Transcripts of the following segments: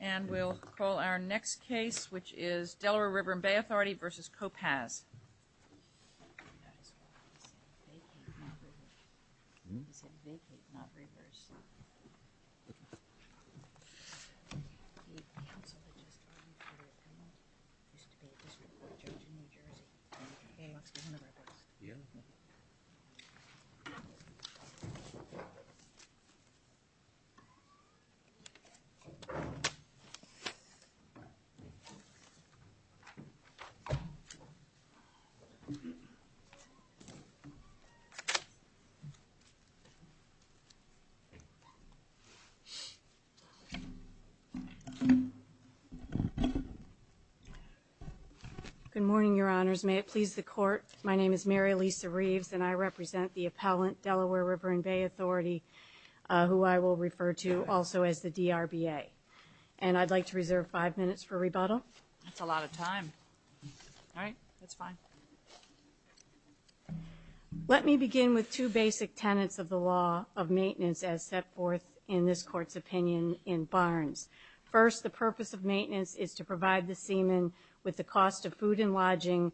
And we'll call our next case, which is Delaware River&Bay Authority v. Kopacz. Good morning, Your Honors. May it please the Court, my name is Mary Lisa Reeves and I represent the appellant, Delaware River&Bay Authority, who I will refer to also as the RBA. And I'd like to reserve five minutes for rebuttal. That's a lot of time. All right, that's fine. Let me begin with two basic tenets of the law of maintenance as set forth in this Court's opinion in Barnes. First, the purpose of maintenance is to provide the seaman with the cost of food and lodging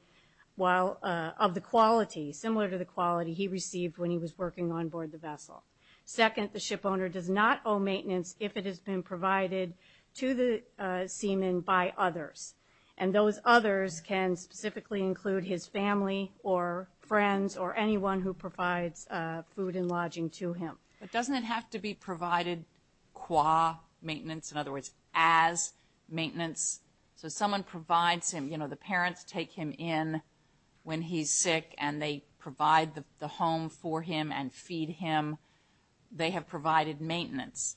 while, of the quality, similar to the quality he received when he was provided to the seaman by others. And those others can specifically include his family or friends or anyone who provides food and lodging to him. But doesn't it have to be provided qua maintenance, in other words, as maintenance? So someone provides him, you know, the parents take him in when he's sick and they provide the home for him and feed him. They have provided maintenance.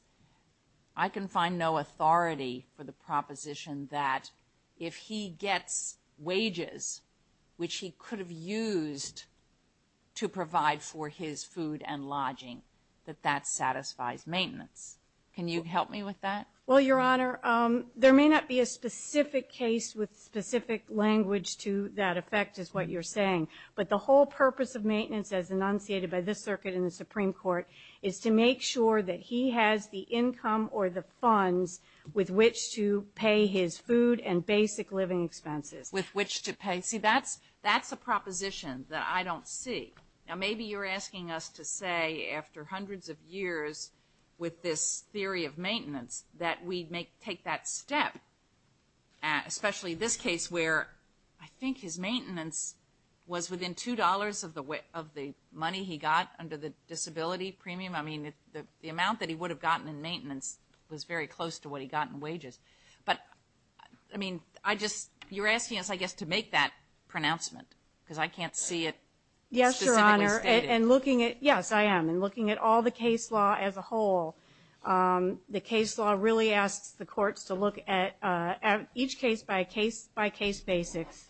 I can find no authority for the proposition that if he gets wages, which he could have used to provide for his food and lodging, that that satisfies maintenance. Can you help me with that? Well, Your Honor, there may not be a specific case with specific language to that effect is what you're saying. But the whole purpose of maintenance as enunciated by this circuit in Supreme Court is to make sure that he has the income or the funds with which to pay his food and basic living expenses. With which to pay? See, that's that's a proposition that I don't see. Now maybe you're asking us to say, after hundreds of years with this theory of maintenance, that we may take that step, especially this case where I think his maintenance was within two dollars of the money he got under the disability premium. I mean, the amount that he would have gotten in maintenance was very close to what he got in wages. But, I mean, I just, you're asking us, I guess, to make that pronouncement because I can't see it specifically stated. Yes, Your Honor, and looking at, yes, I am, and looking at all the case law as a whole, the case law really asks the courts to look at each case by case basics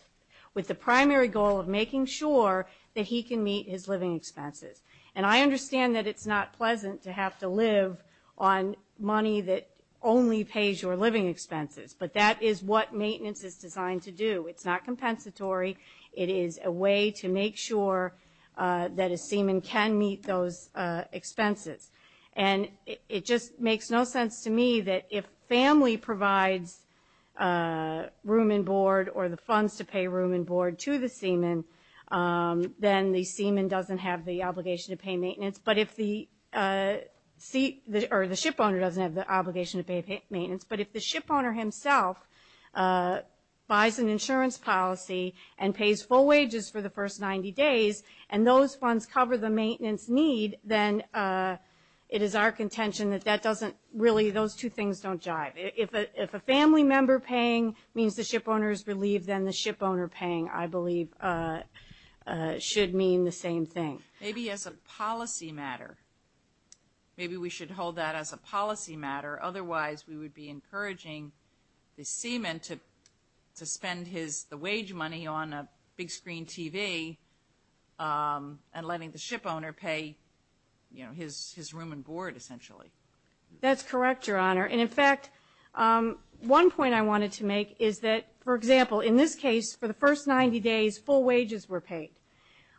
with the primary goal of making sure that he can meet his living expenses. And I understand that it's not pleasant to have to live on money that only pays your living expenses. But that is what maintenance is designed to do. It's not compensatory. It is a way to make sure that a seaman can meet those expenses. And it just makes no sense to me that if family provides room and board or the funds to pay room and board to the seaman, then the seaman doesn't have the obligation to pay maintenance. But if the seat, or the shipowner doesn't have the obligation to pay maintenance. But if the shipowner himself buys an insurance policy and pays full wages for the really, those two things don't jive. If a family member paying means the shipowner is relieved, then the shipowner paying, I believe, should mean the same thing. Maybe as a policy matter. Maybe we should hold that as a policy matter. Otherwise, we would be encouraging the seaman to spend his, the wage money on a big screen TV and letting the shipowner pay, you know, his room and board, essentially. That's correct, Your Honor. And in fact, one point I wanted to make is that, for example, in this case, for the first 90 days, full wages were paid.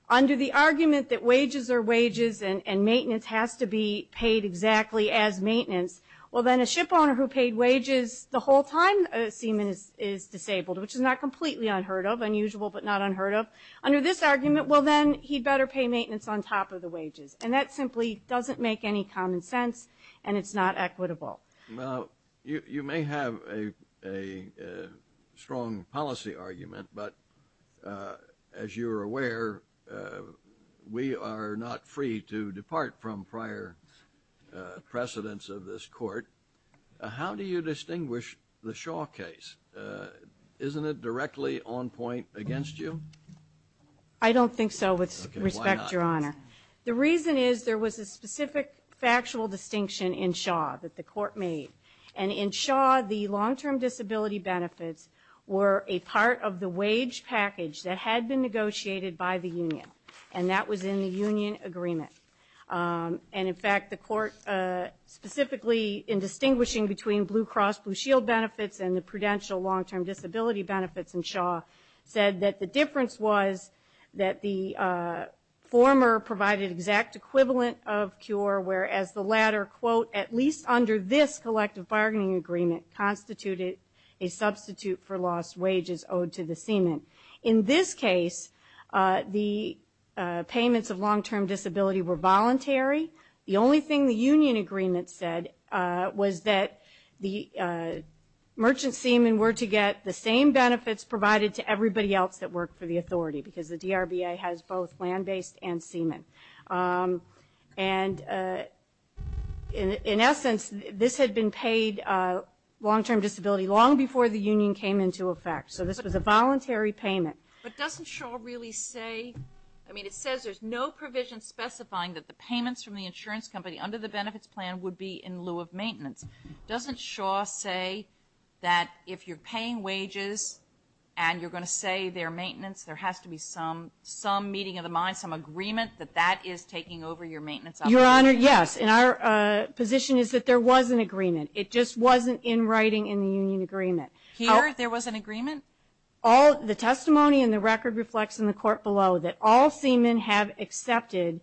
Under the argument that wages are wages and maintenance has to be paid exactly as maintenance, well then a shipowner who paid wages the whole time, a seaman is disabled, which is not completely unheard of, unusual, but not unheard of. Under this argument, well then, he'd better pay maintenance on top of the wages. And that simply doesn't make any common sense, and it's not equitable. Well, you may have a strong policy argument, but as you're aware, we are not free to depart from prior precedents of this court. How do you distinguish the Shaw case? Isn't it directly on point against you? I don't think so, with respect, Your Honor. The reason is there was a specific factual distinction in Shaw that the court made. And in Shaw, the long-term disability benefits were a part of the wage package that had been negotiated by the union, and that was in the union agreement. And in fact, the court, specifically in distinguishing between Blue Cross Blue Shield benefits and the prudential long-term disability benefits in Shaw, said that the difference was that the former provided exact equivalent of cure, whereas the latter, quote, at least under this collective bargaining agreement, constituted a substitute for lost wages owed to the seaman. In this case, the payments of long-term disability were voluntary. The only thing the union agreement said was that the merchant seaman were to get the same benefits provided to everybody else that worked for the authority, because the DRBA has both land-based and seaman. And in essence, this had been paid long-term disability long before the union came into effect. So this was a voluntary payment. But doesn't Shaw really say, I mean, it says there's no provision specifying that the payments from the insurance company under the benefits plan would be in lieu of maintenance. Doesn't Shaw say that if you're paying wages and you're going to say they're maintenance, there has to be some meeting of the mind, some agreement that that is taking over your maintenance obligation? Your Honor, yes. And our position is that there was an agreement. It just wasn't in writing in the union agreement. Here, there was an agreement? All the testimony in the record reflects in the court below that all seamen have accepted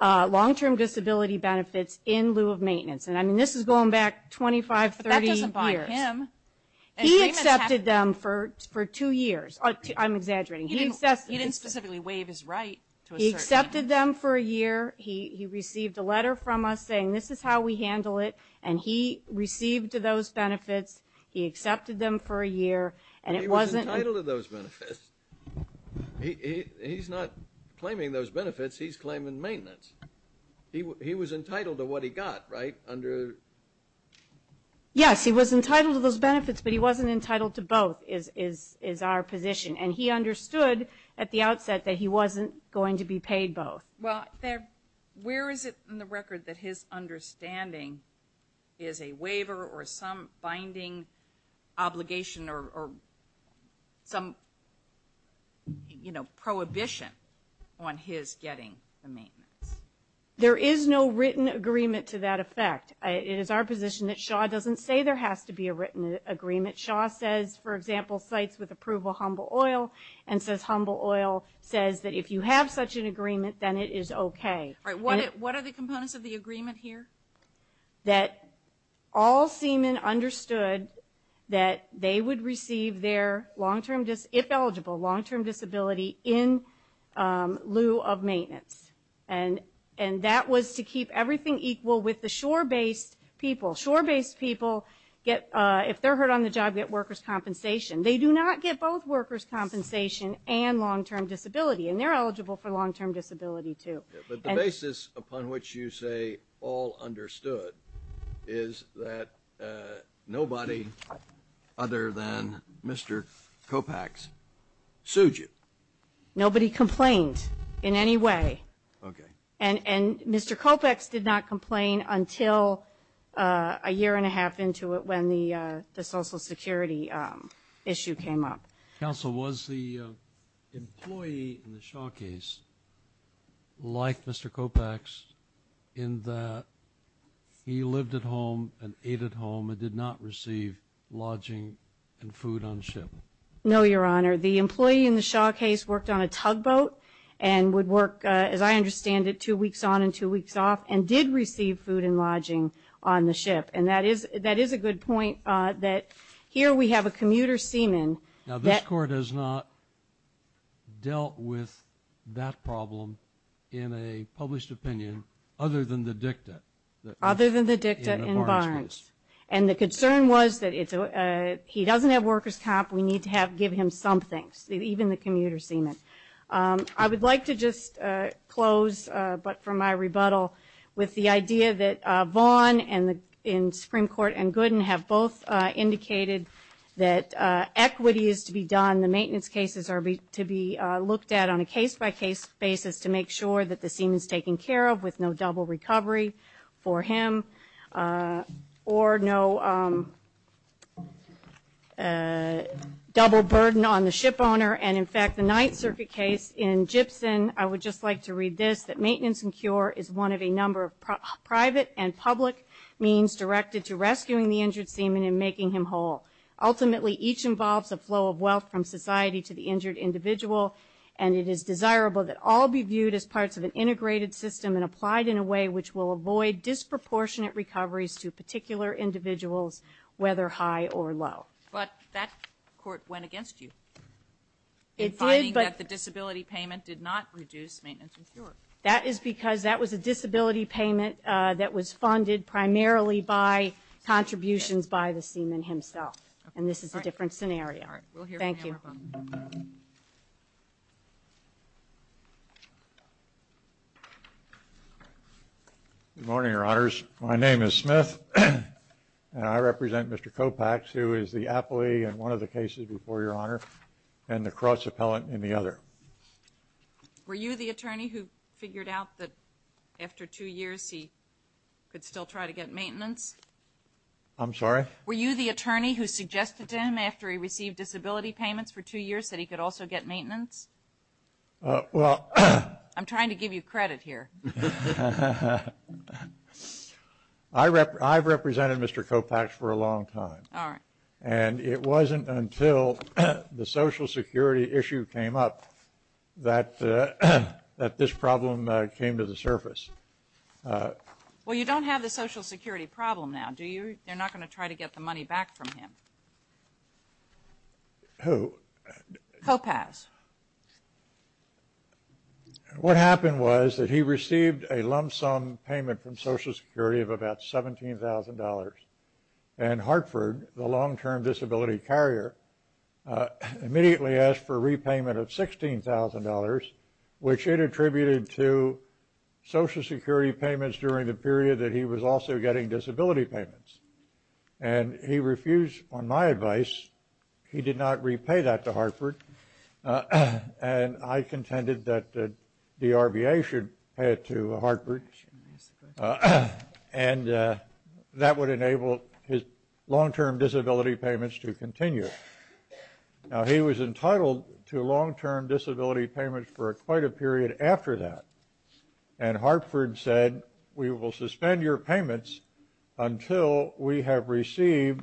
long-term disability benefits in lieu of maintenance. And I mean, this is going back 25, 30 years. But that doesn't buy him. He accepted them for two years. I'm exaggerating. He didn't specifically waive his right to a certain amount. He accepted them for a year. He received a letter from us saying, this is how we handle it. And he received those benefits. He accepted them for a year. And it wasn't- He was entitled to those benefits. He's not claiming those benefits. He's claiming maintenance. He was entitled to what he got, right? Under- Yes, he was entitled to those benefits. But he wasn't entitled to both, is our position. And he understood at the outset that he wasn't going to be paid both. Well, where is it in the record that his understanding is a waiver or some binding obligation or some, you know, prohibition on his getting the maintenance? There is no written agreement to that effect. It is our position that Shaw doesn't say there has to be a written agreement. Shaw says, for example, cites with approval Humble Oil and says Humble Oil says that if you have such an agreement, then it is okay. All right, what are the components of the agreement here? That all seamen understood that they would receive their long-term, if eligible, long-term disability in lieu of maintenance. And that was to keep everything equal with the shore-based people. Shore-based people get, if they're hurt on the job, get workers' compensation. They do not get both workers' compensation and long-term disability. And they're eligible for long-term disability, too. But the basis upon which you say all understood is that nobody other than Mr. Kopecks sued you. Nobody complained in any way. Okay. And Mr. Kopecks did not complain until a year and a half into it when the Social Security issue came up. Counsel, was the employee in the Shaw case like Mr. Kopecks in that he lived at home and ate at home and did not receive lodging and food on ship? No, Your Honor. The employee in the Shaw case worked on a tugboat and would work, as I understand it, two weeks on and two weeks off and did receive food and lodging on the ship. And that is a good point that here we have a commuter seaman. Now, this Court has not dealt with that problem in a published opinion other than the dicta. Other than the dicta in Barnes. We need to give him something, even the commuter seaman. I would like to just close, but for my rebuttal, with the idea that Vaughn in Supreme Court and Gooden have both indicated that equity is to be done. The maintenance cases are to be looked at on a case-by-case basis to make sure that the seaman is taken care of with no double recovery for him or no double burden on the ship owner. And in fact, the Ninth Circuit case in Gibson, I would just like to read this, that maintenance and cure is one of a number of private and public means directed to rescuing the injured seaman and making him whole. Ultimately, each involves a flow of wealth from society to the injured individual. And it is desirable that all be viewed as parts of an integrated system and applied in a way which will avoid disproportionate recoveries to particular individuals, whether high or low. But that court went against you. It did, but the disability payment did not reduce maintenance and cure. That is because that was a disability payment that was funded primarily by contributions by the seaman himself. And this is a different scenario. All right, we'll hear from him. Thank you. Good morning, your honors. My name is Smith, and I represent Mr. Kopax, who is the appellee in one of the cases before your honor, and the cross-appellant in the other. Were you the attorney who figured out that after two years he could still try to get maintenance? I'm sorry? Were you the attorney who suggested to him after he received disability payments for two years that he could also get maintenance? Well. I'm trying to give you credit here. I've represented Mr. Kopax for a long time. All right. And it wasn't until the Social Security issue came up that this problem came to the surface. Well, you don't have the Social Security problem now, do you? They're not going to try to get the money back from him. Who? Kopax. What happened was that he received a lump sum payment from Social Security of about $17,000. And Hartford, the long-term disability carrier, immediately asked for a repayment of $16,000, which it attributed to Social Security payments during the period that he was also getting disability payments. And he refused, on my advice, he did not repay that to Hartford. And I contended that the RBA should pay it to Hartford. And that would enable his long-term disability payments to continue. Now, he was entitled to long-term disability payments for quite a period after that. And Hartford said, we will suspend your payments until we have received,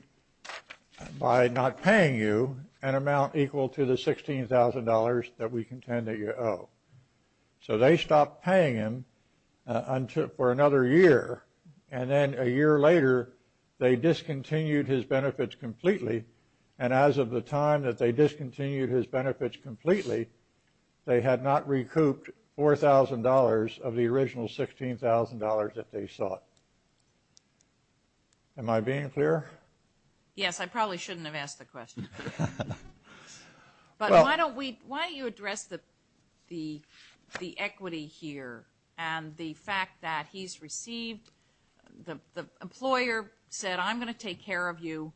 by not paying you, an amount equal to the $16,000 that we contend that you owe. So they stopped paying him for another year. And then a year later, they discontinued his benefits completely. And as of the time that they discontinued his benefits completely, they had not recouped $4,000 of the original $16,000 that they sought. Am I being clear? Yes, I probably shouldn't have asked the question. But why don't we, why don't you address the equity here and the fact that he's received, the employer said, I'm going to take care of you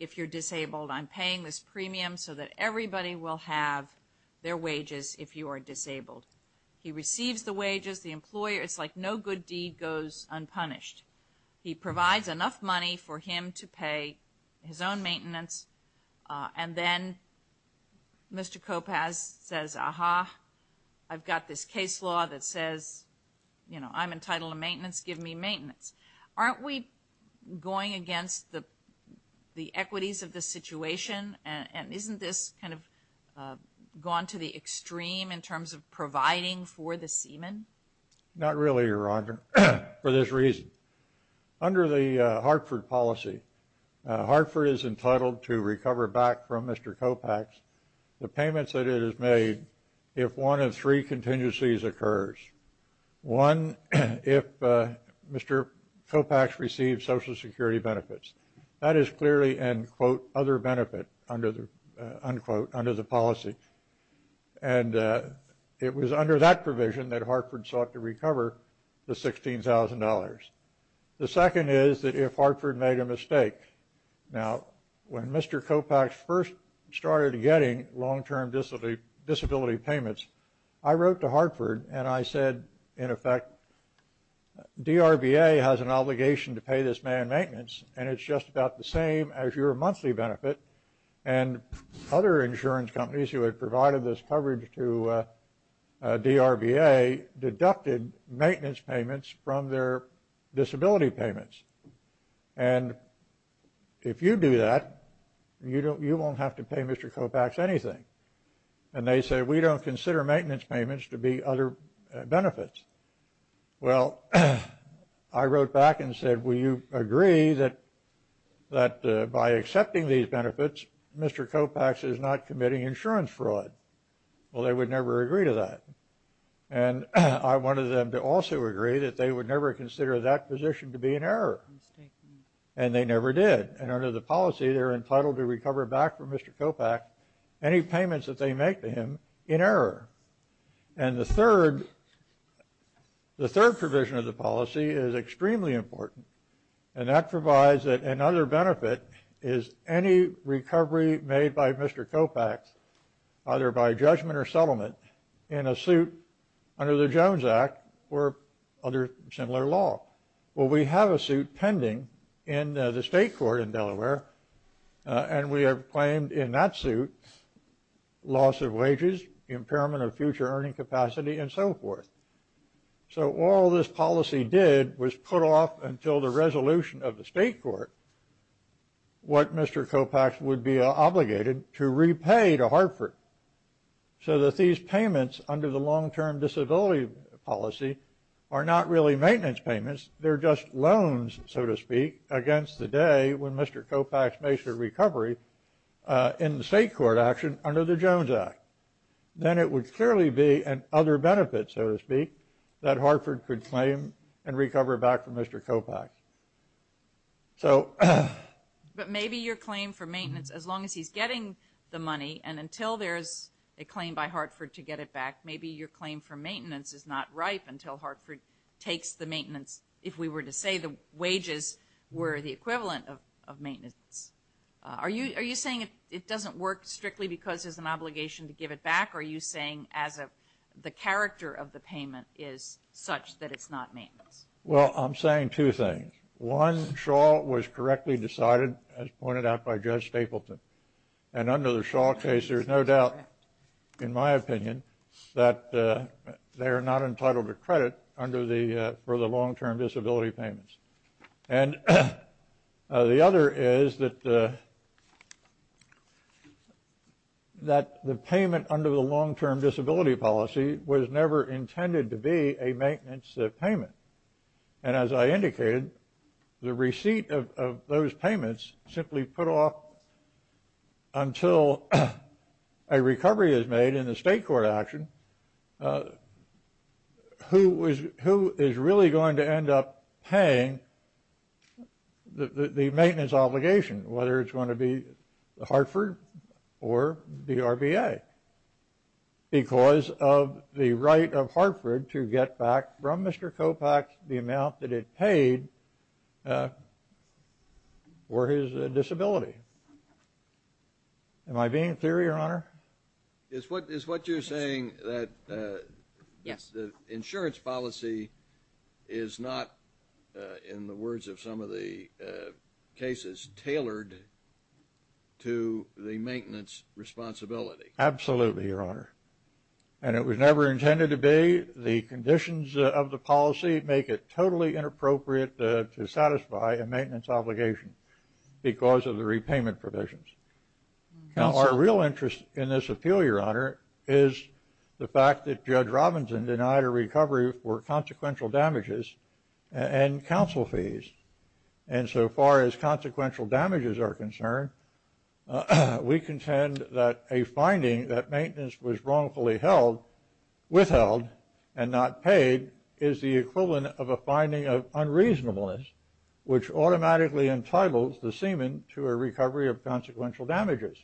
if you're disabled. I'm paying this premium so that everybody will have their wages if you are disabled. He receives the wages, the employer, it's like no good deed goes unpunished. He provides enough money for him to pay his own maintenance. And then Mr. Koppaz says, aha, I've got this case law that says, you know, I'm entitled to maintenance, give me maintenance. Aren't we going against the equities of the situation? And isn't this kind of gone to the extreme in terms of providing for the seaman? Not really, Your Honor, for this reason. Under the Hartford policy, Hartford is entitled to recover back from Mr. Koppaz the payments that it has made if one of three contingencies occurs. One, if Mr. Koppaz receives Social Security benefits. That is clearly an, quote, other benefit under the, unquote, under the policy. And it was under that provision that Hartford sought to recover the $16,000. The second is that if Hartford made a mistake. Now, when Mr. Koppaz first started getting long-term disability payments, I wrote to Hartford and I said, in effect, DRBA has an obligation to pay this man maintenance and it's just about the same as your monthly benefit. And other insurance companies who had provided this coverage to DRBA deducted maintenance payments from their disability payments. And if you do that, you won't have to pay Mr. Koppaz anything. And they said, we don't consider maintenance payments to be other benefits. Well, I wrote back and said, will you agree that by accepting these benefits, Mr. Koppaz is not committing insurance fraud? Well, they would never agree to that. And I wanted them to also agree that they would never consider that position to be an error. And they never did. And under the policy, they're entitled to recover back from Mr. Koppaz any payments that they make to him in error. And the third, the third provision of the policy is extremely important. And that provides that another benefit is any recovery made by Mr. Koppaz, either by judgment or settlement in a suit under the Jones Act or other similar law. Well, we have a suit pending in the state court in Delaware, and we have claimed in that suit loss of wages, impairment of future earning capacity, and so forth. So all this policy did was put off until the resolution of the state court, what Mr. Koppaz would be obligated to repay to Hartford. So that these payments under the long-term disability policy are not really maintenance payments. They're just loans, so to speak, against the day when Mr. Koppaz makes a recovery in the state court action under the Jones Act. Then it would clearly be an other benefit, so to speak, that Hartford could claim and recover back from Mr. Koppaz. So. But maybe your claim for maintenance, as long as he's getting the money and until there's a claim by Hartford to get it back, maybe your claim for maintenance is not ripe until Hartford takes the maintenance, if we were to say the wages were the equivalent of maintenance. Are you saying it doesn't work strictly because there's an obligation to give it back, or are you saying the character of the payment is such that it's not maintenance? Well, I'm saying two things. One, Shaw was correctly decided, as pointed out by Judge Stapleton. And under the Shaw case, there's no doubt, in my opinion, that they are not entitled to credit under the, for the long-term disability payments. And the other is that the payment under the long-term disability policy was never intended to be a maintenance payment. And as I indicated, the receipt of those payments simply put off until a recovery is made in the state court action, who is really going to end up paying the maintenance obligation, whether it's going to be Hartford or the RBA, because of the right of Hartford to get back from Mr. Kopach the amount that it paid for his disability. Am I being clear, Your Honor? Is what you're saying that the insurance policy is not, in the words of some of the cases, tailored to the maintenance responsibility? Absolutely, Your Honor. And it was never intended to be. The conditions of the policy make it totally inappropriate to satisfy a maintenance obligation because of the repayment provisions. Now, our real interest in this appeal, Your Honor, is the fact that Judge Robinson denied a recovery for consequential damages and counsel fees. And so far as consequential damages are concerned, we contend that a finding that maintenance was wrongfully held, withheld, and not paid is the equivalent of a finding of unreasonableness, which automatically entitles the seaman to a recovery of consequential damages.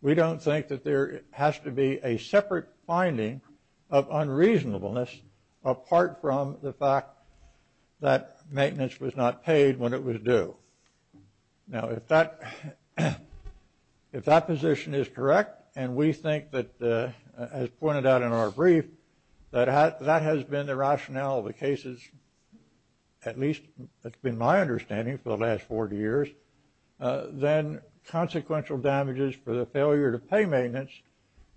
We don't think that there has to be a separate finding of unreasonableness, apart from the fact that maintenance was not paid when it was due. Now, if that position is correct, and we think that, as pointed out in our brief, that that has been the rationale of the cases, at least that's been my understanding for the last 40 years, then consequential damages for the failure to pay maintenance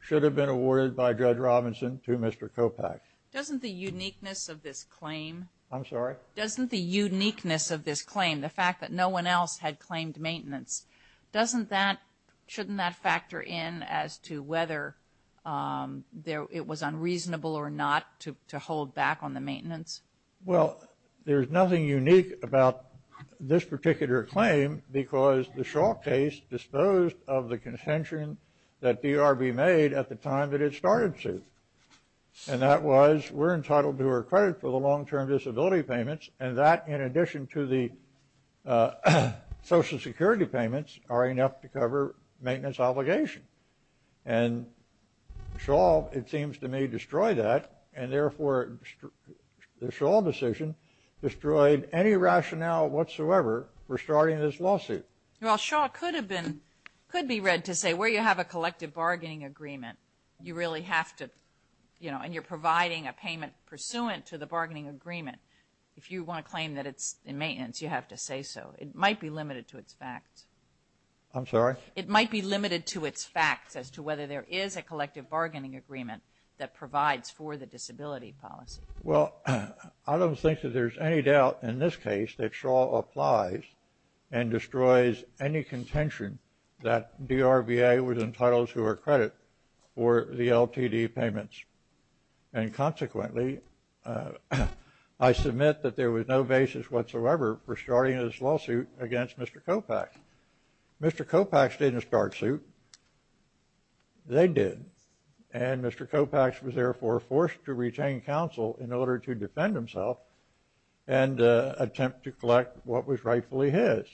should have been awarded by Judge Robinson to Mr. Kopach. I'm sorry? No one else had claimed maintenance. Doesn't that, shouldn't that factor in as to whether it was unreasonable or not to hold back on the maintenance? Well, there's nothing unique about this particular claim because the Shaw case disposed of the consention that DRB made at the time that it started to. And that was, we're entitled to our credit for the long-term disability payments, and that in addition to the Social Security payments are enough to cover maintenance obligation. And Shaw, it seems to me, destroyed that, and therefore the Shaw decision destroyed any rationale whatsoever for starting this lawsuit. Well, Shaw could have been, could be read to say, where you have a collective bargaining agreement, you really have to, you know, and you're providing a payment pursuant to the bargaining agreement. If you want to claim that it's in maintenance, you have to say so. It might be limited to its facts. I'm sorry? It might be limited to its facts as to whether there is a collective bargaining agreement that provides for the disability policy. Well, I don't think that there's any doubt in this case that Shaw applies and destroys any contention that DRBA was entitled to our credit for the LTD payments. And consequently, I submit that there was no basis whatsoever for starting this lawsuit against Mr. Kopach. Mr. Kopach didn't start suit. They did. And Mr. Kopach was therefore forced to retain counsel in order to defend himself and attempt to collect what was rightfully his.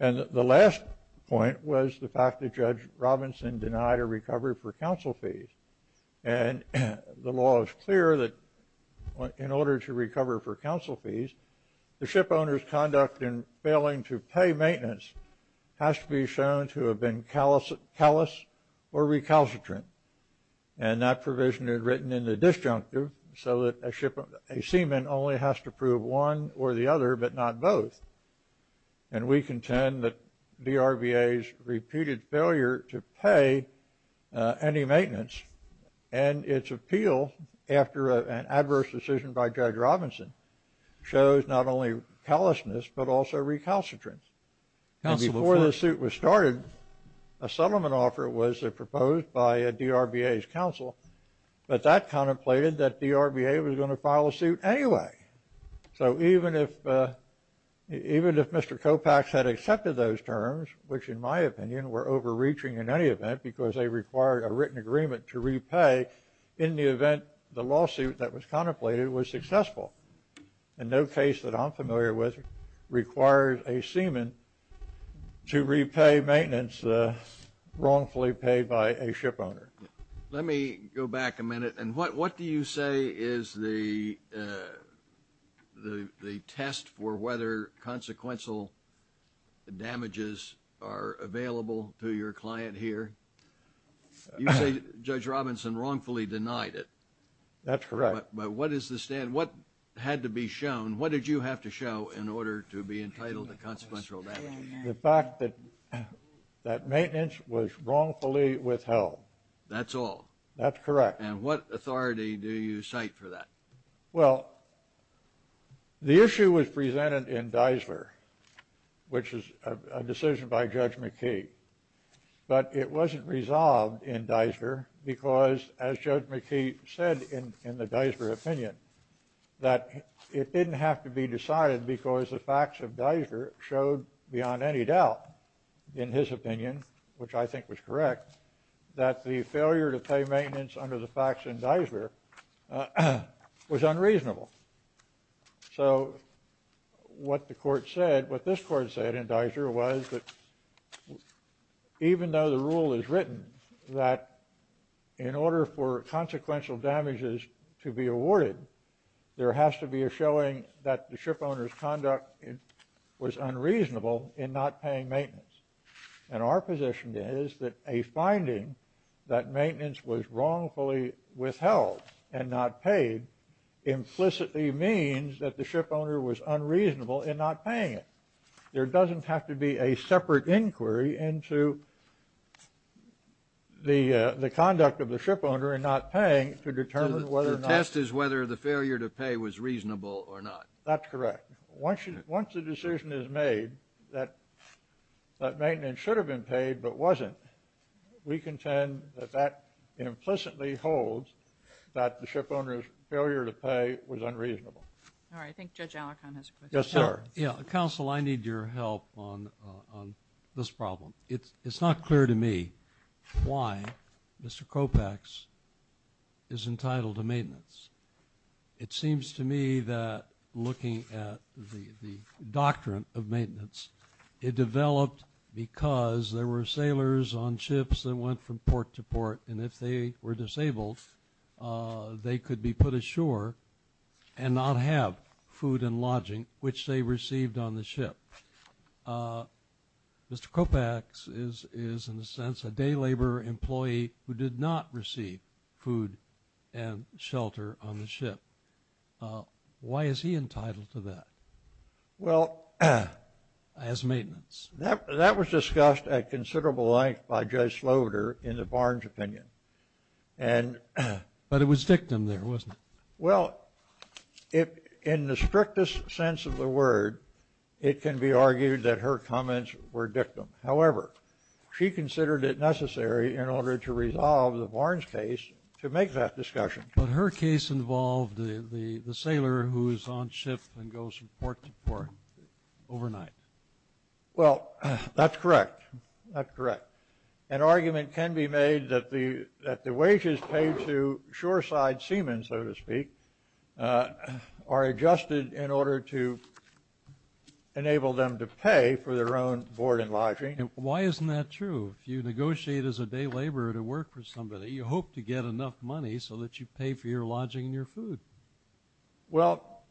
And the last point was the fact that Judge Robinson denied a recovery for counsel fees. And the law is clear that in order to recover for counsel fees, the shipowner's conduct in failing to pay maintenance has to be shown to have been callous or recalcitrant. And that provision is written in the disjunctive so that a seaman only has to prove one or the other but not both. And we contend that DRBA's repeated failure to pay any maintenance and its appeal after an adverse decision by Judge Robinson shows not only callousness, but also recalcitrance. And before the suit was started, a settlement offer was proposed by DRBA's counsel, but that contemplated that DRBA was going to file a suit anyway. So even if Mr. Kopach had accepted those terms, which in my opinion were overreaching in any event because they required a written agreement to repay in the event the lawsuit that was contemplated was successful, in no case that I'm familiar with requires a seaman to repay maintenance wrongfully paid by a shipowner. Let me go back a minute. And what do you say is the test for whether consequential damages are available to your client here? You say Judge Robinson wrongfully denied it. That's correct. But what is the stand? What had to be shown? What did you have to show in order to be entitled to consequential damage? The fact that that maintenance was wrongfully withheld. That's all. That's correct. And what authority do you cite for that? Well, the issue was presented in Deisler, which is a decision by Judge McKee. But it wasn't resolved in Deisler because, as Judge McKee said in the Deisler opinion, that it didn't have to be decided because the facts of Deisler showed beyond any doubt, in his opinion, which I think was correct, that the failure to pay maintenance under the facts in Deisler was unreasonable. So what the court said, what this court said in Deisler was that even though the rule is written that in order for consequential damages to be awarded, there has to be a showing that the shipowner's conduct was unreasonable in not paying maintenance. And our position is that a finding that maintenance was wrongfully withheld and not paid implicitly means that the shipowner was unreasonable in not paying it. There doesn't have to be a separate inquiry into the conduct of the shipowner in not paying to determine whether or not... The test is whether the failure to pay was reasonable or not. That's correct. Once the decision is made that maintenance should have been paid but wasn't, we contend that that implicitly holds that the shipowner's failure to pay was unreasonable. All right. I think Judge Alicorn has a question. Yes, sir. Counsel, I need your help on this problem. It's not clear to me why Mr. Kropach is entitled to maintenance. It seems to me that looking at the doctrine of maintenance, it developed because there were sailors on ships that went from port to port, and if they were disabled, they could be put ashore and not have food and lodging, which they received on the ship. Mr. Kropach is, in a sense, a day labor employee who did not receive food and shelter on the ship. Why is he entitled to that as maintenance? That was discussed at considerable length by Judge Sloater in the Barnes opinion. But it was dictum there, wasn't it? Well, in the strictest sense of the word, it can be argued that her comments were dictum. However, she considered it necessary in order to resolve the Barnes case to make that discussion. But her case involved the sailor who is on ship and goes from port to port overnight. Well, that's correct. That's correct. An argument can be made that the wages paid to shoreside seamen, so to speak, are adjusted in order to enable them to pay for their own board and lodging. Why isn't that true? If you negotiate as a day laborer to work for somebody, you hope to get enough money so that you pay for your lodging and your food. Well,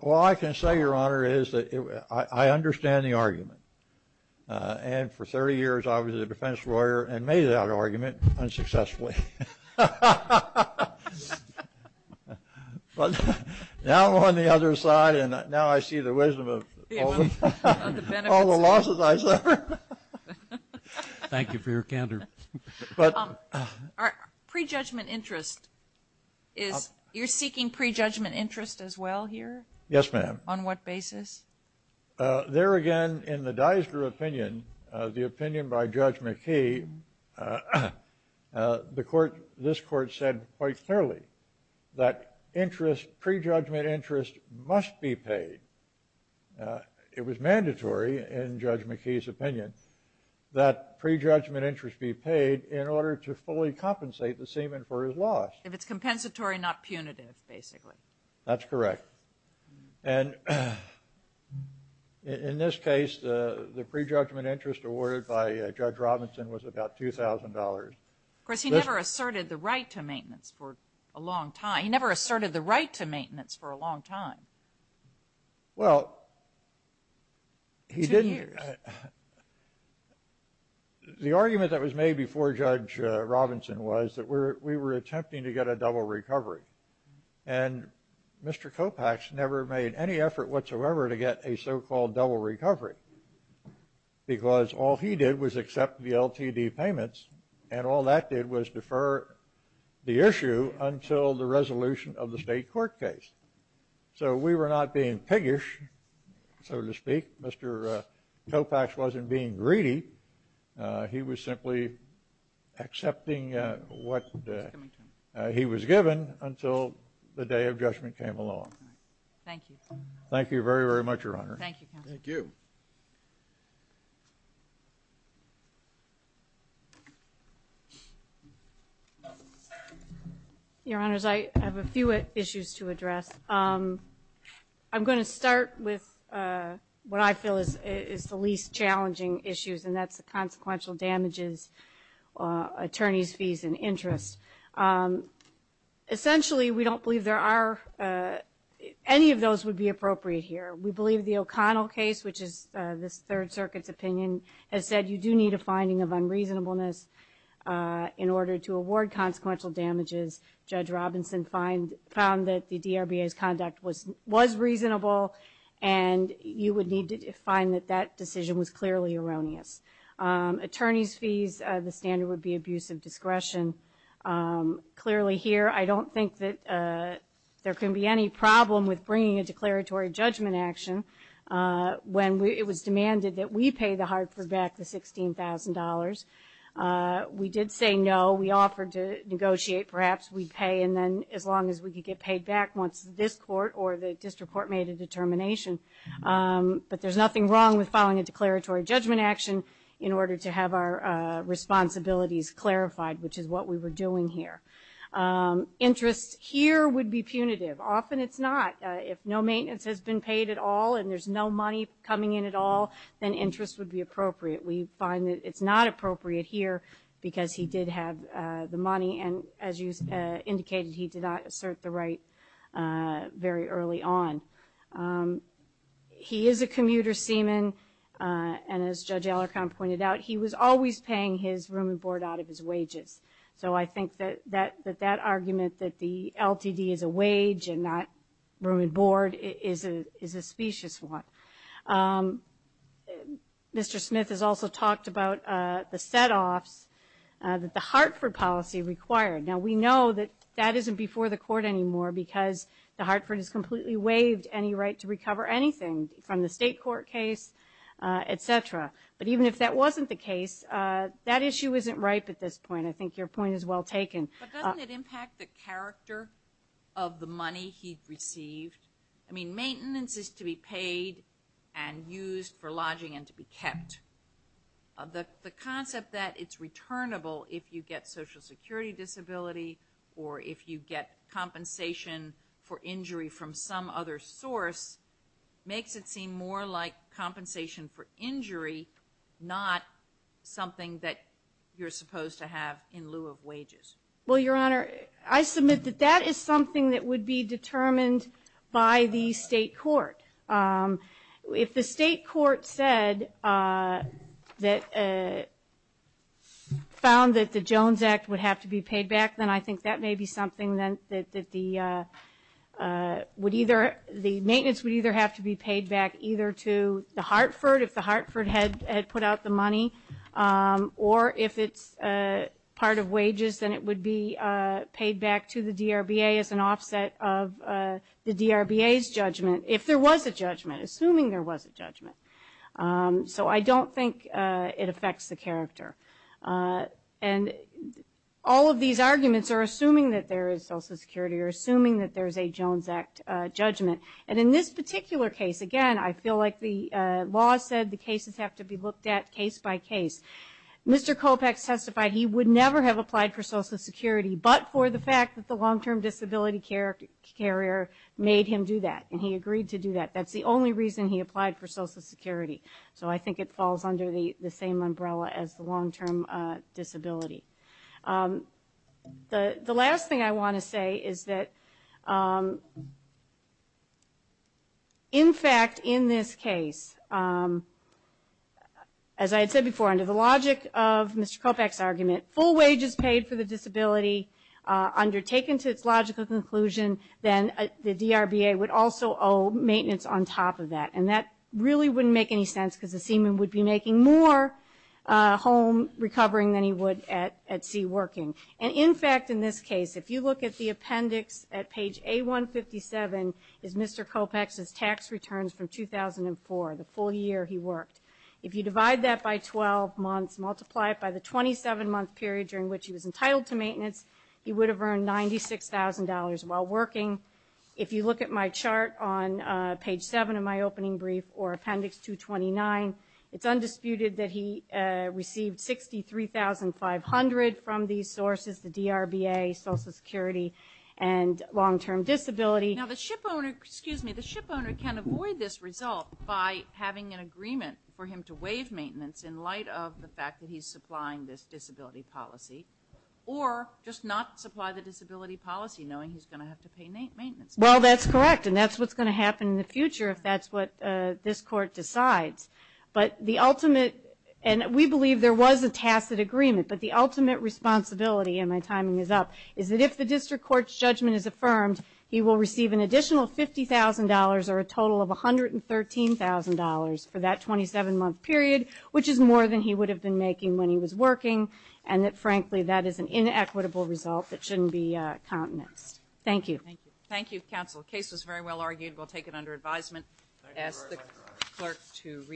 all I can say, Your Honor, is that I understand the argument. And for 30 years, I was a defense lawyer and made that argument unsuccessfully. But now I'm on the other side and now I see the wisdom of all the losses I suffered. Thank you for your candor. But pre-judgment interest is you're seeking pre-judgment interest as well here? Yes, ma'am. On what basis? There again, in the Dysker opinion, the opinion by Judge McKee, the court, this court said quite clearly that interest pre-judgment interest must be paid. It was mandatory, in Judge McKee's opinion, that pre-judgment interest be paid in order to fully compensate the seaman for his loss. If it's compensatory, not punitive, basically. That's correct. And in this case, the pre-judgment interest awarded by Judge Robinson was about $2,000. Of course, he never asserted the right to maintenance for a long time. He never asserted the right to maintenance for a long time. Well, he didn't. Ten years. The argument that was made before Judge Robinson was that we were attempting to get a double recovery. And Mr. Kopach never made any effort whatsoever to get a so-called double recovery because all he did was accept the LTD payments and all that did was defer the issue until the resolution of the state court case. So we were not being piggish, so to speak. Mr. Kopach wasn't being greedy. He was simply accepting what he was given until the day of judgment came along. Thank you. Thank you very, very much, Your Honor. Thank you. Thank you. Your Honors, I have a few issues to address. I'm going to start with what I feel is the least challenging issues, and that's the consequential damages, attorney's fees and interest. Essentially, we don't believe there are any of those would be appropriate here. We believe the O'Connell case, which is this Third Circuit's opinion, has said you do need a finding of unreasonableness in order to award consequential damages. Judge Robinson found that the DRBA's conduct was reasonable, and you would need to find that that decision was clearly erroneous. Attorney's fees, the standard would be abuse of discretion. Clearly here, I don't think that there can be any problem with bringing a declaratory judgment action when it was demanded that we pay the Hartford back the $16,000. We did say no. We offered to negotiate. Perhaps we'd pay, and then as long as we could get paid back once this court or the district court made a determination. But there's nothing wrong with filing a declaratory judgment action in order to have our responsibilities clarified, which is what we were doing here. Interest here would be punitive. Often it's not. If no maintenance has been paid at all, and there's no money coming in at all, then interest would be appropriate. We find that it's not appropriate here because he did have the money, and as you indicated, he did not assert the right very early on. He is a commuter seaman, and as Judge Ellicott pointed out, he was always paying his room and board out of his wages. So I think that that argument that the LTD is a wage and not room and board is a specious one. Mr. Smith has also talked about the setoffs that the Hartford policy required. Now, we know that that isn't before the court anymore because the Hartford has completely waived any right to recover anything from the state court case, et cetera. But even if that wasn't the case, that issue isn't ripe at this point. I think your point is well taken. But doesn't it impact the character of the money he received? I mean, maintenance is to be paid and used for lodging and to be kept. The concept that it's returnable if you get social security disability or if you get compensation for injury from some other source makes it seem more like compensation for injury, not something that you're supposed to have in lieu of wages. Well, Your Honor, I submit that that is something that would be determined by the state court. If the state court said that, found that the Jones Act would have to be paid back, then I think that may be something that the would either, the maintenance would either have to be paid back either to the Hartford, if the Hartford had put out the money. Or if it's part of wages, then it would be paid back to the DRBA as an offset of the DRBA's judgment. If there was a judgment, assuming there was a judgment. So I don't think it affects the character. And all of these arguments are assuming that there is social security or assuming that there's a Jones Act judgment. And in this particular case, again, I feel like the law said the cases have to be looked at case by case. Mr. Kopec testified he would never have applied for social security, but for the fact that the long term disability carrier made him do that. And he agreed to do that. That's the only reason he applied for social security. So I think it falls under the same umbrella as the long term disability. The last thing I want to say is that, in fact, in this case, as I had said before, under the logic of Mr. Kopec's argument, full wages paid for the disability undertaken to its logical conclusion, then the DRBA would also owe maintenance on top of that. And that really wouldn't make any sense because the seaman would be making more home recovering than he would at sea working. And in fact, in this case, if you look at the appendix at page A157 is Mr. Kopec's tax returns from 2004, the full year he worked. If you divide that by 12 months, multiply it by the 27 month period during which he was entitled to maintenance, he would have earned $96,000 while working. If you look at my chart on page 7 of my opening brief or appendix 229, it's undisputed that he received $63,500 from these sources, the DRBA, social security, and long term disability. Now the ship owner, excuse me, the ship owner can avoid this result by having an agreement for him to waive maintenance in light of the fact that he's supplying this disability policy. Or just not supply the disability policy knowing he's going to have to pay maintenance. Well that's correct and that's what's going to happen in the future if that's what this court decides. But the ultimate, and we believe there was a tacit agreement, but the ultimate responsibility, and my timing is up, is that if the district court's judgment is affirmed, he will receive an additional $50,000 or a total of $113,000 for that 27 month period. Which is more than he would have been making when he was working and that frankly that is an inequitable result that shouldn't be countenanced. Thank you. Thank you counsel. Case was very well argued. We'll take it under advisement. Ask the clerk to